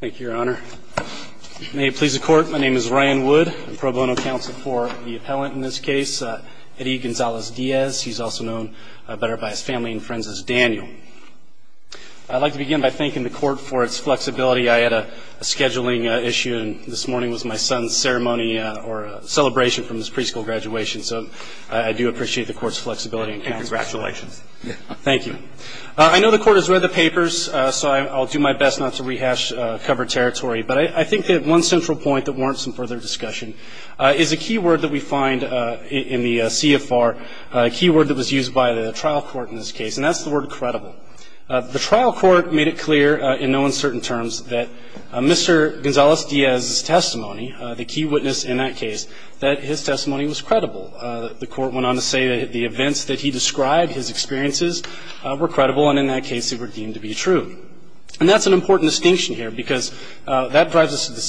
Thank you, Your Honor. May it please the Court, my name is Ryan Wood. I'm pro bono counsel for the appellant in this case, Edi Gonzalez-Diaz. He's also known better by his family and friends as Daniel. I'd like to begin by thanking the Court for its flexibility. I had a scheduling issue and this morning was my son's ceremony or celebration from his preschool graduation, so I do appreciate the Court's flexibility and counsel. Congratulations. Thank you. I know the Court has read the papers, so I'll do my best not to rehash covered territory, but I think that one central point that warrants some further discussion is a key word that we find in the CFR, a key word that was used by the trial court in this case, and that's the word credible. The trial court made it clear in no uncertain terms that Mr. Gonzalez-Diaz's testimony, the key witness in that case, that his testimony was credible. The Court went on to say that the events that he described, his experiences, were credible and in that case they were deemed to be true. And that's an important distinction here, because that drives us to the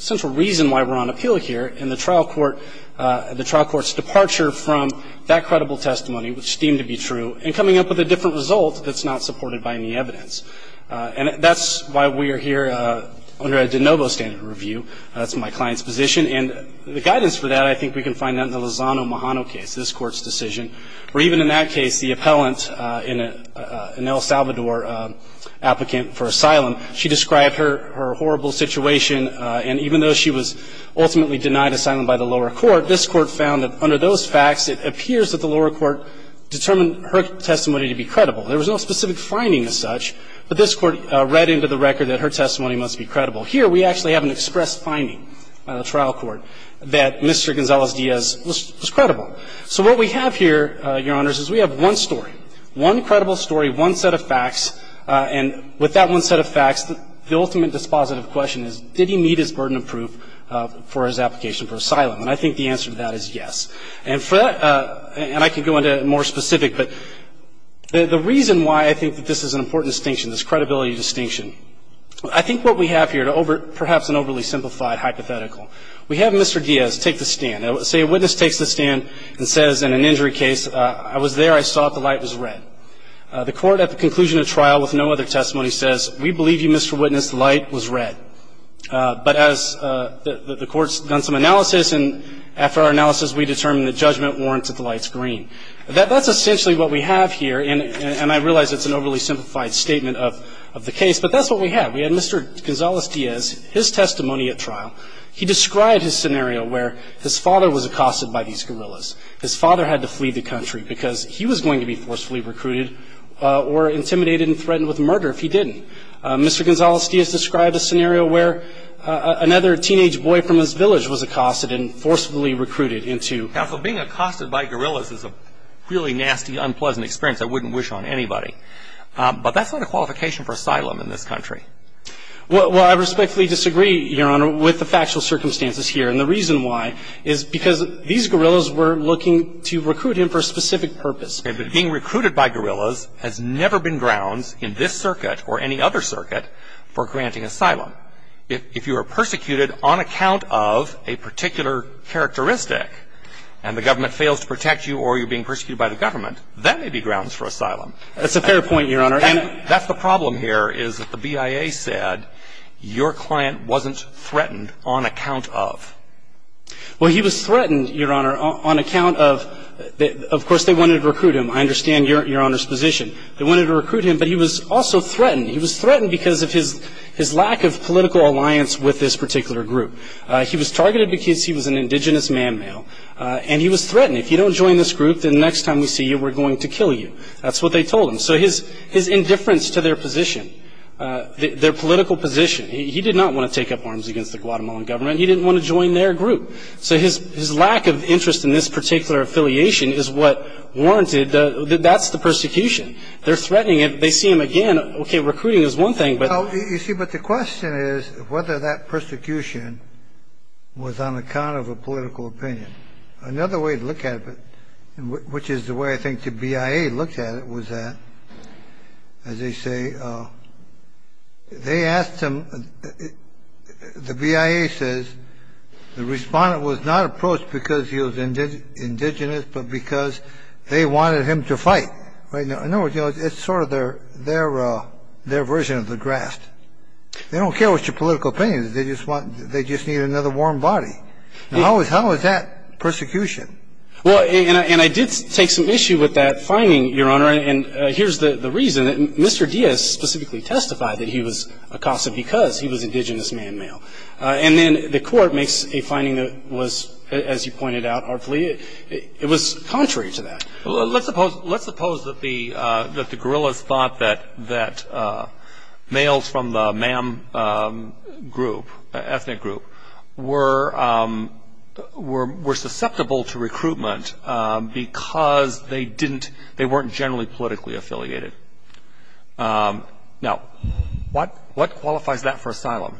central reason why we're on appeal here in the trial court's departure from that credible testimony, which deemed to be true, and coming up with a different result that's not supported by any evidence. And that's why we are here under a de novo standard review. That's my client's position. And the guidance for that I think we can find out in the Lozano-Mahano case, this Court's decision, where even in that case the appellant, an El Salvador applicant for asylum, she described her horrible situation. And even though she was ultimately denied asylum by the lower court, this Court found that under those facts it appears that the lower court determined her testimony to be credible. There was no specific finding as such, but this Court read into the record that her testimony must be credible. Here we actually have an express finding by the trial court that Mr. Gonzalez-Diaz was credible. So what we have here, Your Honors, is we have one story, one credible story, one set of facts. And with that one set of facts, the ultimate dispositive question is, did he meet his burden of proof for his application for asylum? And I think the answer to that is yes. And for that, and I could go into more specific, but the reason why I think that this is an important distinction, this credibility distinction, I think what we have here, perhaps an overly simplified hypothetical, we have Mr. Diaz take the stand. Say a witness takes the stand and says in an injury case, I was there, I saw it, the light was red. The Court at the conclusion of trial with no other testimony says, we believe you, Mr. Witness, the light was red. But as the Court's done some analysis, and after our analysis we determined that judgment warrants that the light's green. That's essentially what we have here, and I realize it's an overly simplified statement of the case, but that's what we have. We have Mr. Gonzalez-Diaz, his testimony at trial. He described his scenario where his father was accosted by these guerrillas. His father had to flee the country because he was going to be forcefully recruited or intimidated and threatened with murder if he didn't. Mr. Gonzalez-Diaz described a scenario where another teenage boy from his village was accosted and forcefully recruited into the country. Now, being accosted by guerrillas is a really nasty, unpleasant experience. I wouldn't wish on anybody. But that's not a qualification for asylum in this country. Well, I respectfully disagree, Your Honor, with the factual circumstances here, and the reason why is because these guerrillas were looking to recruit him for a specific purpose. Okay, but being recruited by guerrillas has never been grounds in this circuit or any other circuit for granting asylum. If you are persecuted on account of a particular characteristic and the government fails to protect you or you're being persecuted by the government, that may be grounds for asylum. That's a fair point, Your Honor. And that's the problem here is that the BIA said your client wasn't threatened on account of. Well, he was threatened, Your Honor, on account of, of course, they wanted to recruit him. I understand Your Honor's position. They wanted to recruit him, but he was also threatened. He was threatened because of his lack of political alliance with this particular group. He was targeted because he was an indigenous man-male, and he was threatened. If you don't join this group, then next time we see you, we're going to kill you. That's what they told him. So his indifference to their position, their political position, he did not want to take up arms against the Guatemalan government. He didn't want to join their group. So his lack of interest in this particular affiliation is what warranted that that's the persecution. They're threatening him. They see him again. Okay, recruiting is one thing, but. You see, but the question is whether that persecution was on account of a political opinion. Another way to look at it, which is the way I think the BIA looked at it, was that, as they say, they asked him. The BIA says the respondent was not approached because he was indigenous, but because they wanted him to fight. In other words, it's sort of their, their, their version of the draft. They don't care what your political opinion is. They just want, they just need another warm body. How is that persecution? Well, and I did take some issue with that finding, Your Honor, and here's the reason. Mr. Diaz specifically testified that he was accosted because he was indigenous man-male. And then the court makes a finding that was, as you pointed out, it was contrary to that. Let's suppose, let's suppose that the, that the guerrillas thought that, that males from the MAM group, ethnic group, were, were, were susceptible to recruitment because they didn't, they weren't generally politically affiliated. Now, what, what qualifies that for asylum?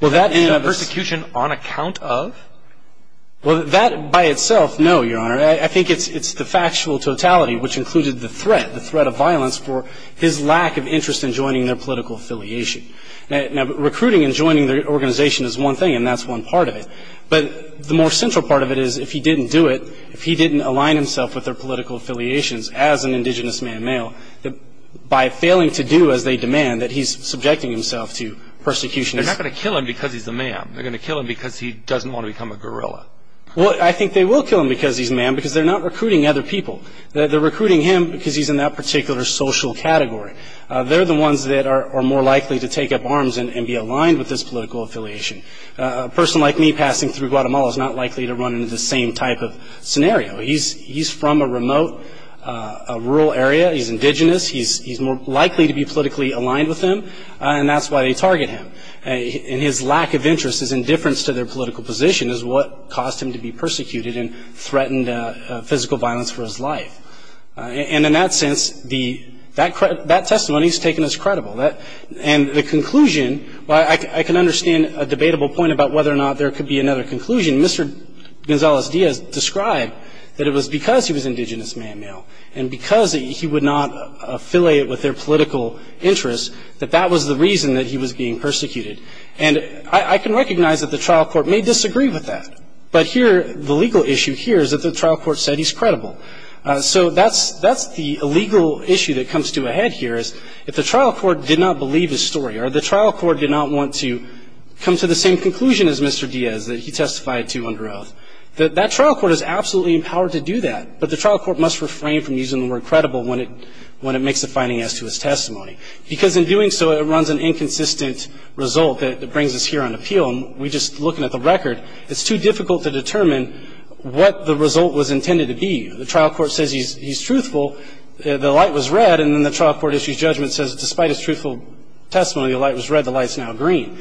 Well, that is. That persecution on account of? Well, that by itself, no, Your Honor. I think it's, it's the factual totality which included the threat, the threat of violence for his lack of interest in joining their political affiliation. Now, recruiting and joining the organization is one thing, and that's one part of it. But the more central part of it is if he didn't do it, if he didn't align himself with their political affiliations as an indigenous man-male, by failing to do as they demand, that he's subjecting himself to persecution. They're not going to kill him because he's a MAM. They're going to kill him because he doesn't want to become a guerrilla. Well, I think they will kill him because he's MAM, because they're not recruiting other people. They're recruiting him because he's in that particular social category. They're the ones that are more likely to take up arms and be aligned with this political affiliation. A person like me passing through Guatemala is not likely to run into the same type of scenario. He's, he's from a remote, rural area. He's indigenous. He's, he's more likely to be politically aligned with them, and that's why they target him. And his lack of interest, his indifference to their political position is what caused him to be persecuted and threatened physical violence for his life. And in that sense, the, that testimony has taken us credible. And the conclusion, I can understand a debatable point about whether or not there could be another conclusion. Mr. Gonzalez-Diaz described that it was because he was indigenous man-male, and because he would not affiliate with their political interests, that that was the reason that he was being persecuted. And I can recognize that the trial court may disagree with that. But here, the legal issue here is that the trial court said he's credible. So that's, that's the legal issue that comes to a head here is if the trial court did not believe his story or the trial court did not want to come to the same conclusion as Mr. Diaz that he testified to under oath, that that trial court is absolutely empowered to do that. But the trial court must refrain from using the word credible when it, when it makes a finding as to his testimony. Because in doing so, it runs an inconsistent result that brings us here on appeal. We're just looking at the record. It's too difficult to determine what the result was intended to be. The trial court says he's, he's truthful. The light was red. And then the trial court issues judgment and says despite his truthful testimony, the light was red, the light is now green.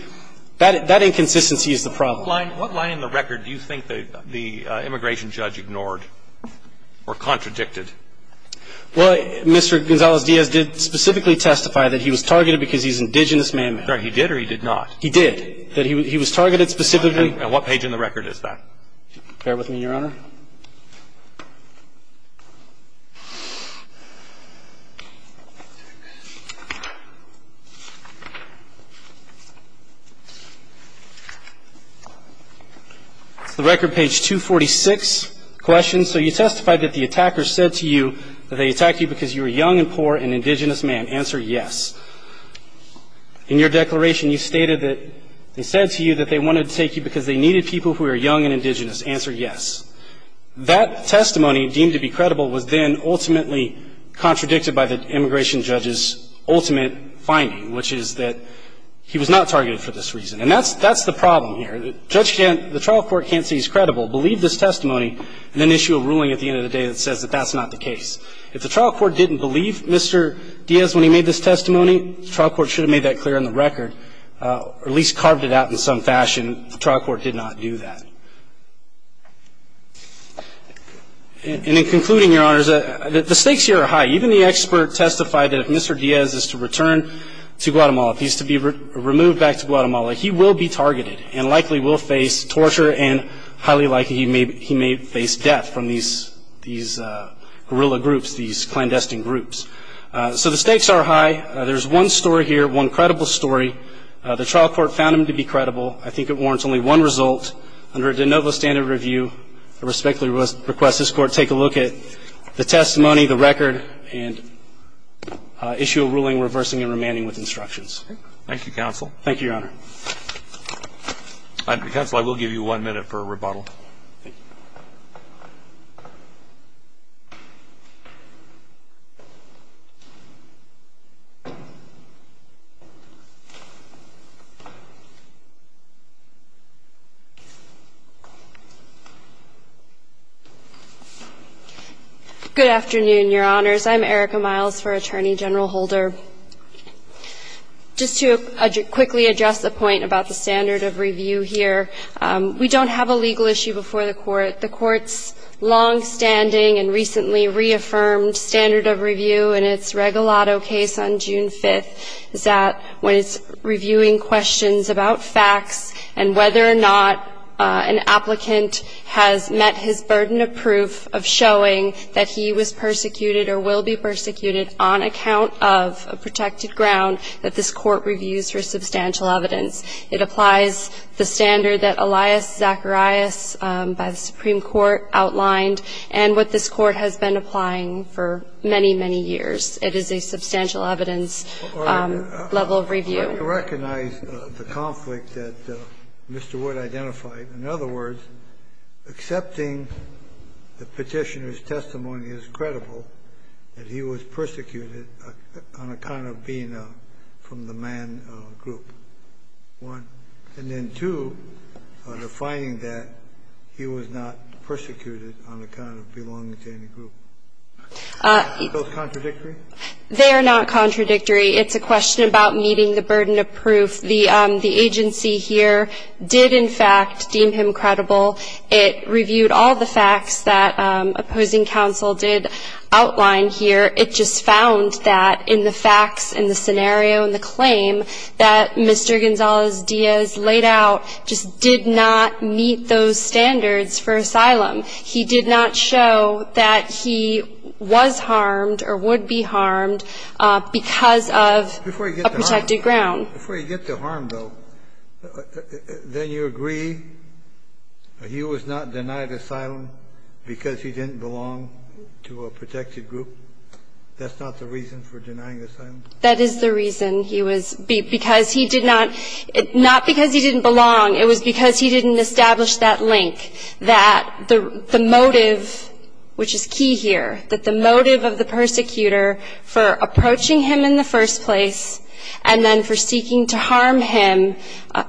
That, that inconsistency is the problem. What line in the record do you think the, the immigration judge ignored or contradicted? Well, Mr. Gonzalez-Diaz did specifically testify that he was targeted because he's indigenous man-made. Right. He did or he did not? He did. That he, he was targeted specifically. And what page in the record is that? Bear with me, Your Honor. It's the record page 246 questions. So you testified that the attacker said to you that they attacked you because you were young and poor and indigenous man. Answer yes. In your declaration, you stated that they said to you that they wanted to take you because they needed people who are young and indigenous. Answer yes. That testimony, deemed to be credible, was then ultimately contradicted by the immigration judge's ultimate finding, which is that he was not targeted for this reason. And that's, that's the problem here. Judge can't, the trial court can't say he's credible, believe this testimony, and then issue a ruling at the end of the day that says that that's not the case. If the trial court didn't believe Mr. Diaz when he made this testimony, the trial court should have made that clear in the record, or at least carved it out in some fashion. And the trial court did not do that. And in concluding, Your Honors, the stakes here are high. Even the expert testified that if Mr. Diaz is to return to Guatemala, if he's to be removed back to Guatemala, he will be targeted and likely will face torture and highly likely he may face death from these guerrilla groups, these clandestine groups. So the stakes are high. There's one story here, one credible story. The trial court found him to be credible. I think it warrants only one result. Under a de novo standard review, I respectfully request this Court take a look at the testimony, the record, and issue a ruling reversing and remanding with instructions. Thank you, counsel. Thank you, Your Honor. Counsel, I will give you one minute for a rebuttal. Thank you. Good afternoon, Your Honors. I'm Erica Miles for Attorney General Holder. Just to quickly address the point about the standard of review here, we don't have a legal issue before the Court. The Court's longstanding and recently reaffirmed standard of review in its Regalado case on June 5th is that when it's reviewing questions about facts and whether or not an applicant has met his burden of proof of showing that he was persecuted or will be persecuted on account of a protected ground, that this Court reviews for substantial evidence. It applies the standard that Elias Zacharias by the Supreme Court outlined and what this Court has been applying for many, many years. It is a substantial evidence level of review. I recognize the conflict that Mr. Wood identified. In other words, accepting the Petitioner's testimony is credible that he was persecuted on account of being from the man group, one. And then, two, defining that he was not persecuted on account of belonging to any group. Are those contradictory? They are not contradictory. It's a question about meeting the burden of proof. The agency here did, in fact, deem him credible. It reviewed all the facts that opposing counsel did outline here. It just found that in the facts and the scenario and the claim that Mr. Gonzalez-Diaz laid out just did not meet those standards for asylum. He did not show that he was harmed or would be harmed because of a protected ground. Before you get to harm, though, then you agree he was not denied asylum because he didn't belong to a protected group? That's not the reason for denying asylum? That is the reason. He was because he did not – not because he didn't belong. It was because he didn't establish that link, that the motive, which is key here, that the motive of the persecutor for approaching him in the first place and then for seeking to harm him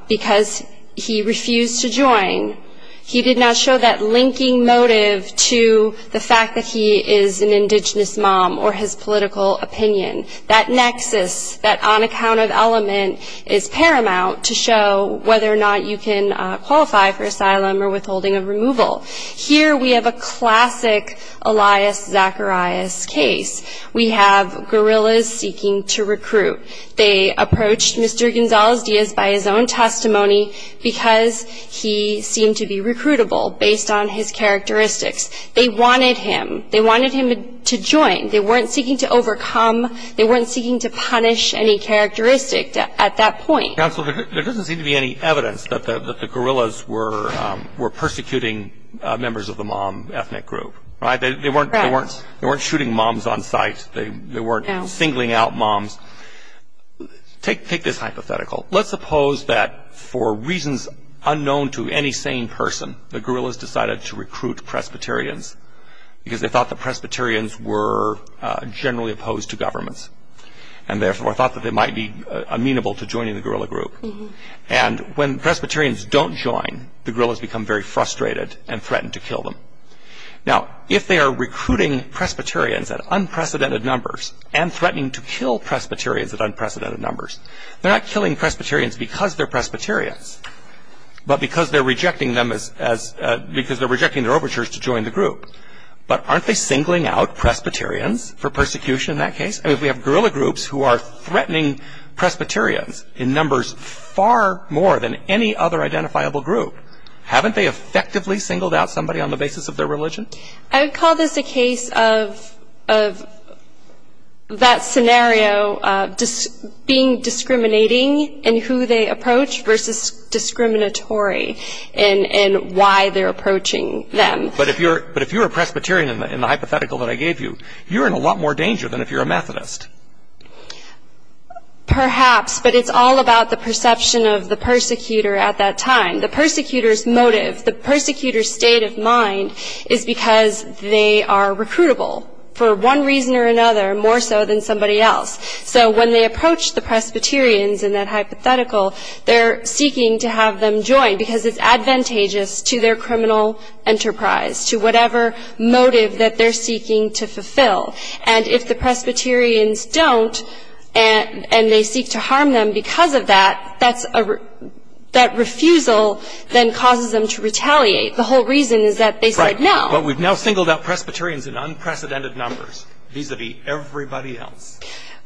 because he refused to join, he did not show that linking motive to the fact that he is an indigenous mom or his political opinion. That nexus, that on-account of element is paramount to show whether or not you can qualify for asylum or withholding of removal. Here we have a classic Elias Zacharias case. We have guerrillas seeking to recruit. They approached Mr. Gonzalez-Diaz by his own testimony because he seemed to be recruitable based on his characteristics. They wanted him. They wanted him to join. They weren't seeking to overcome. They weren't seeking to punish any characteristic at that point. Counsel, there doesn't seem to be any evidence that the guerrillas were persecuting members of the mom ethnic group. They weren't shooting moms on sight. They weren't singling out moms. Take this hypothetical. Let's suppose that for reasons unknown to any sane person, the guerrillas decided to recruit Presbyterians because they thought the Presbyterians were generally opposed to governments and therefore thought that they might be amenable to joining the guerrilla group. When Presbyterians don't join, the guerrillas become very frustrated and threaten to kill them. Now, if they are recruiting Presbyterians at unprecedented numbers and threatening to kill Presbyterians at unprecedented numbers, they're not killing Presbyterians because they're Presbyterians but because they're rejecting their arbiters to join the group. But aren't they singling out Presbyterians for persecution in that case? I mean, if we have guerrilla groups who are threatening Presbyterians in numbers far more than any other identifiable group, haven't they effectively singled out somebody on the basis of their religion? I would call this a case of that scenario of being discriminating in who they approach versus discriminatory in why they're approaching them. But if you're a Presbyterian in the hypothetical that I gave you, you're in a lot more danger than if you're a Methodist. Perhaps, but it's all about the perception of the persecutor at that time. The persecutor's motive, the persecutor's state of mind is because they are recruitable for one reason or another more so than somebody else. So when they approach the Presbyterians in that hypothetical, they're seeking to have them join because it's advantageous to their criminal enterprise, to whatever motive that they're seeking to fulfill. And if the Presbyterians don't and they seek to harm them because of that, that refusal then causes them to retaliate. The whole reason is that they said no. But we've now singled out Presbyterians in unprecedented numbers vis-a-vis everybody else.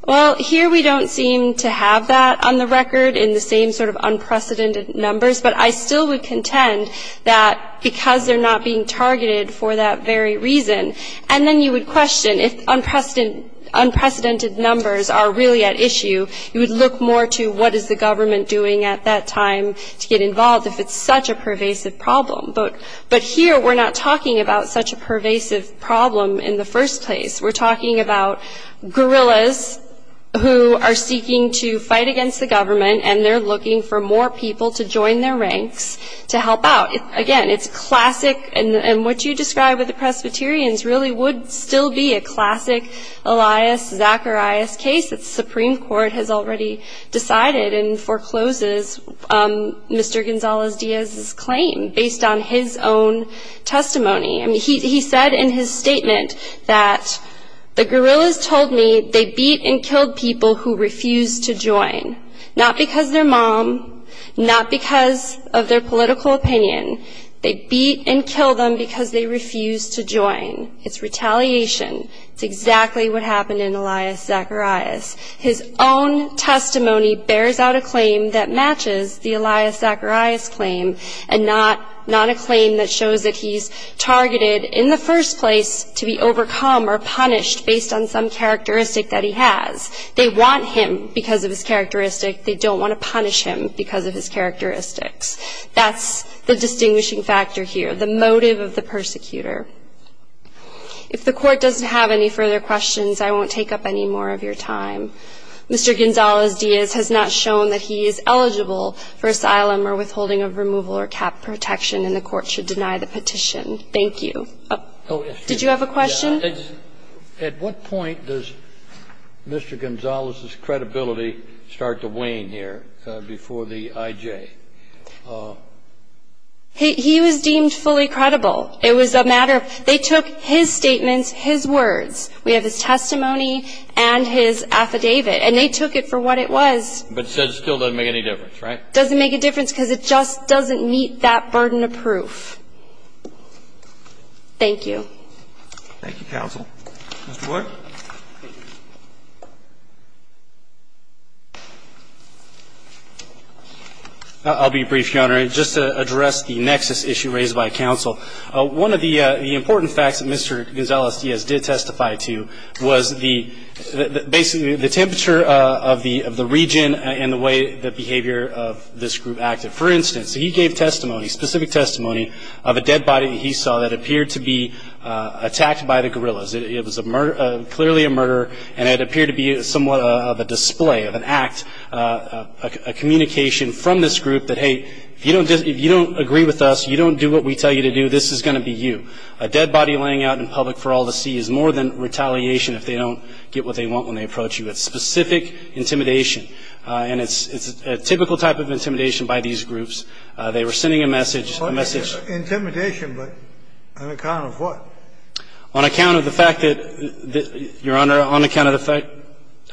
Well, here we don't seem to have that on the record in the same sort of unprecedented numbers, but I still would contend that because they're not being targeted for that very reason, and then you would question if unprecedented numbers are really at issue, you would look more to what is the government doing at that time to get involved, if it's such a pervasive problem. But here we're not talking about such a pervasive problem in the first place. We're talking about guerrillas who are seeking to fight against the government and they're looking for more people to join their ranks to help out. Again, it's classic, and what you described with the Presbyterians really would still be a classic Elias Zacharias case that the Supreme Court has already decided and forecloses Mr. Gonzalez-Diaz's claim based on his own testimony. I mean, he said in his statement that the guerrillas told me they beat and killed people who refused to join, not because they're mom, not because of their political opinion. They beat and killed them because they refused to join. It's retaliation. It's exactly what happened in Elias Zacharias. His own testimony bears out a claim that matches the Elias Zacharias claim and not a claim that shows that he's targeted in the first place to be overcome or punished based on some characteristic that he has. They want him because of his characteristic. They don't want to punish him because of his characteristics. That's the distinguishing factor here, the motive of the persecutor. If the Court doesn't have any further questions, I won't take up any more of your time. Mr. Gonzalez-Diaz has not shown that he is eligible for asylum or withholding of removal or cap protection, and the Court should deny the petition. Thank you. Did you have a question? At what point does Mr. Gonzalez's credibility start to wane here before the IJ? He was deemed fully credible. It was a matter of they took his statements, his words. We have his testimony and his affidavit, and they took it for what it was. But it still doesn't make any difference, right? It doesn't make a difference because it just doesn't meet that burden of proof. Thank you. Thank you, counsel. Mr. Ward. I'll be brief, Your Honor. Just to address the nexus issue raised by counsel, one of the important facts that Mr. Gonzalez-Diaz did testify to was basically the temperature of the region and the way the behavior of this group acted. For instance, he gave testimony, specific testimony, of a dead body that he saw that appeared to be attacked by the guerrillas. It was clearly a murder, and it appeared to be somewhat of a display, of an act, a communication from this group that, hey, if you don't agree with us, you don't do what we tell you to do, this is going to be you. A dead body laying out in public for all to see is more than retaliation if they don't get what they want when they approach you. It's specific intimidation. And it's a typical type of intimidation by these groups. They were sending a message. Intimidation, but on account of what? On account of the fact that, Your Honor, on account of the fact.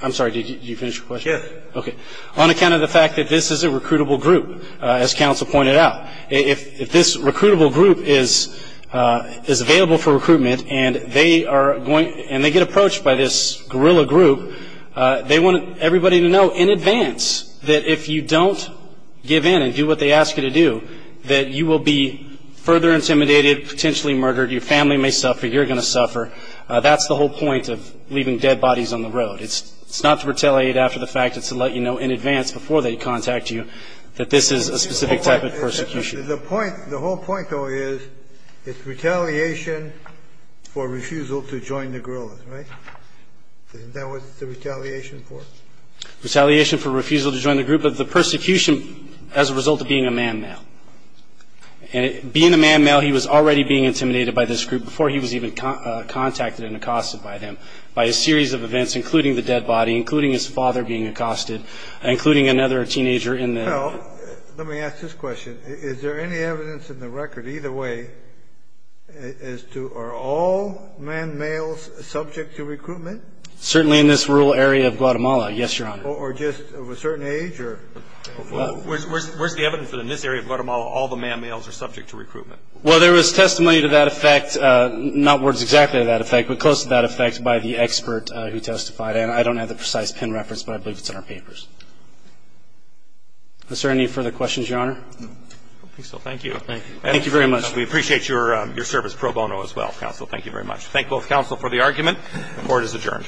I'm sorry. Did you finish your question? Yes. Okay. On account of the fact that this is a recruitable group, as counsel pointed out, if this recruitable group is available for recruitment and they get approached by this guerrilla group, they want everybody to know in advance that if you don't give in and do what they ask you to do, that you will be further intimidated, potentially murdered, your family may suffer, you're going to suffer. That's the whole point of leaving dead bodies on the road. It's not to retaliate after the fact. It's to let you know in advance before they contact you that this is a specific type of persecution. The whole point, though, is it's retaliation for refusal to join the guerrillas, right? Isn't that what it's the retaliation for? Retaliation for refusal to join the group, but the persecution as a result of being a man-male. And being a man-male, he was already being intimidated by this group before he was even contacted and accosted by them, by a series of events including the dead body, including his father being accosted, including another teenager in there. Well, let me ask this question. Is there any evidence in the record either way as to are all man-males subject to recruitment? Certainly in this rural area of Guatemala, yes, Your Honor. Or just of a certain age or? Where's the evidence that in this area of Guatemala all the man-males are subject to recruitment? Well, there was testimony to that effect, not words exactly to that effect, but close to that effect by the expert who testified. And I don't have the precise pin reference, but I believe it's in our papers. Is there any further questions, Your Honor? I don't think so. Thank you. Thank you very much. We appreciate your service pro bono as well, counsel. Thank you very much. Thank both counsel for the argument. The court is adjourned.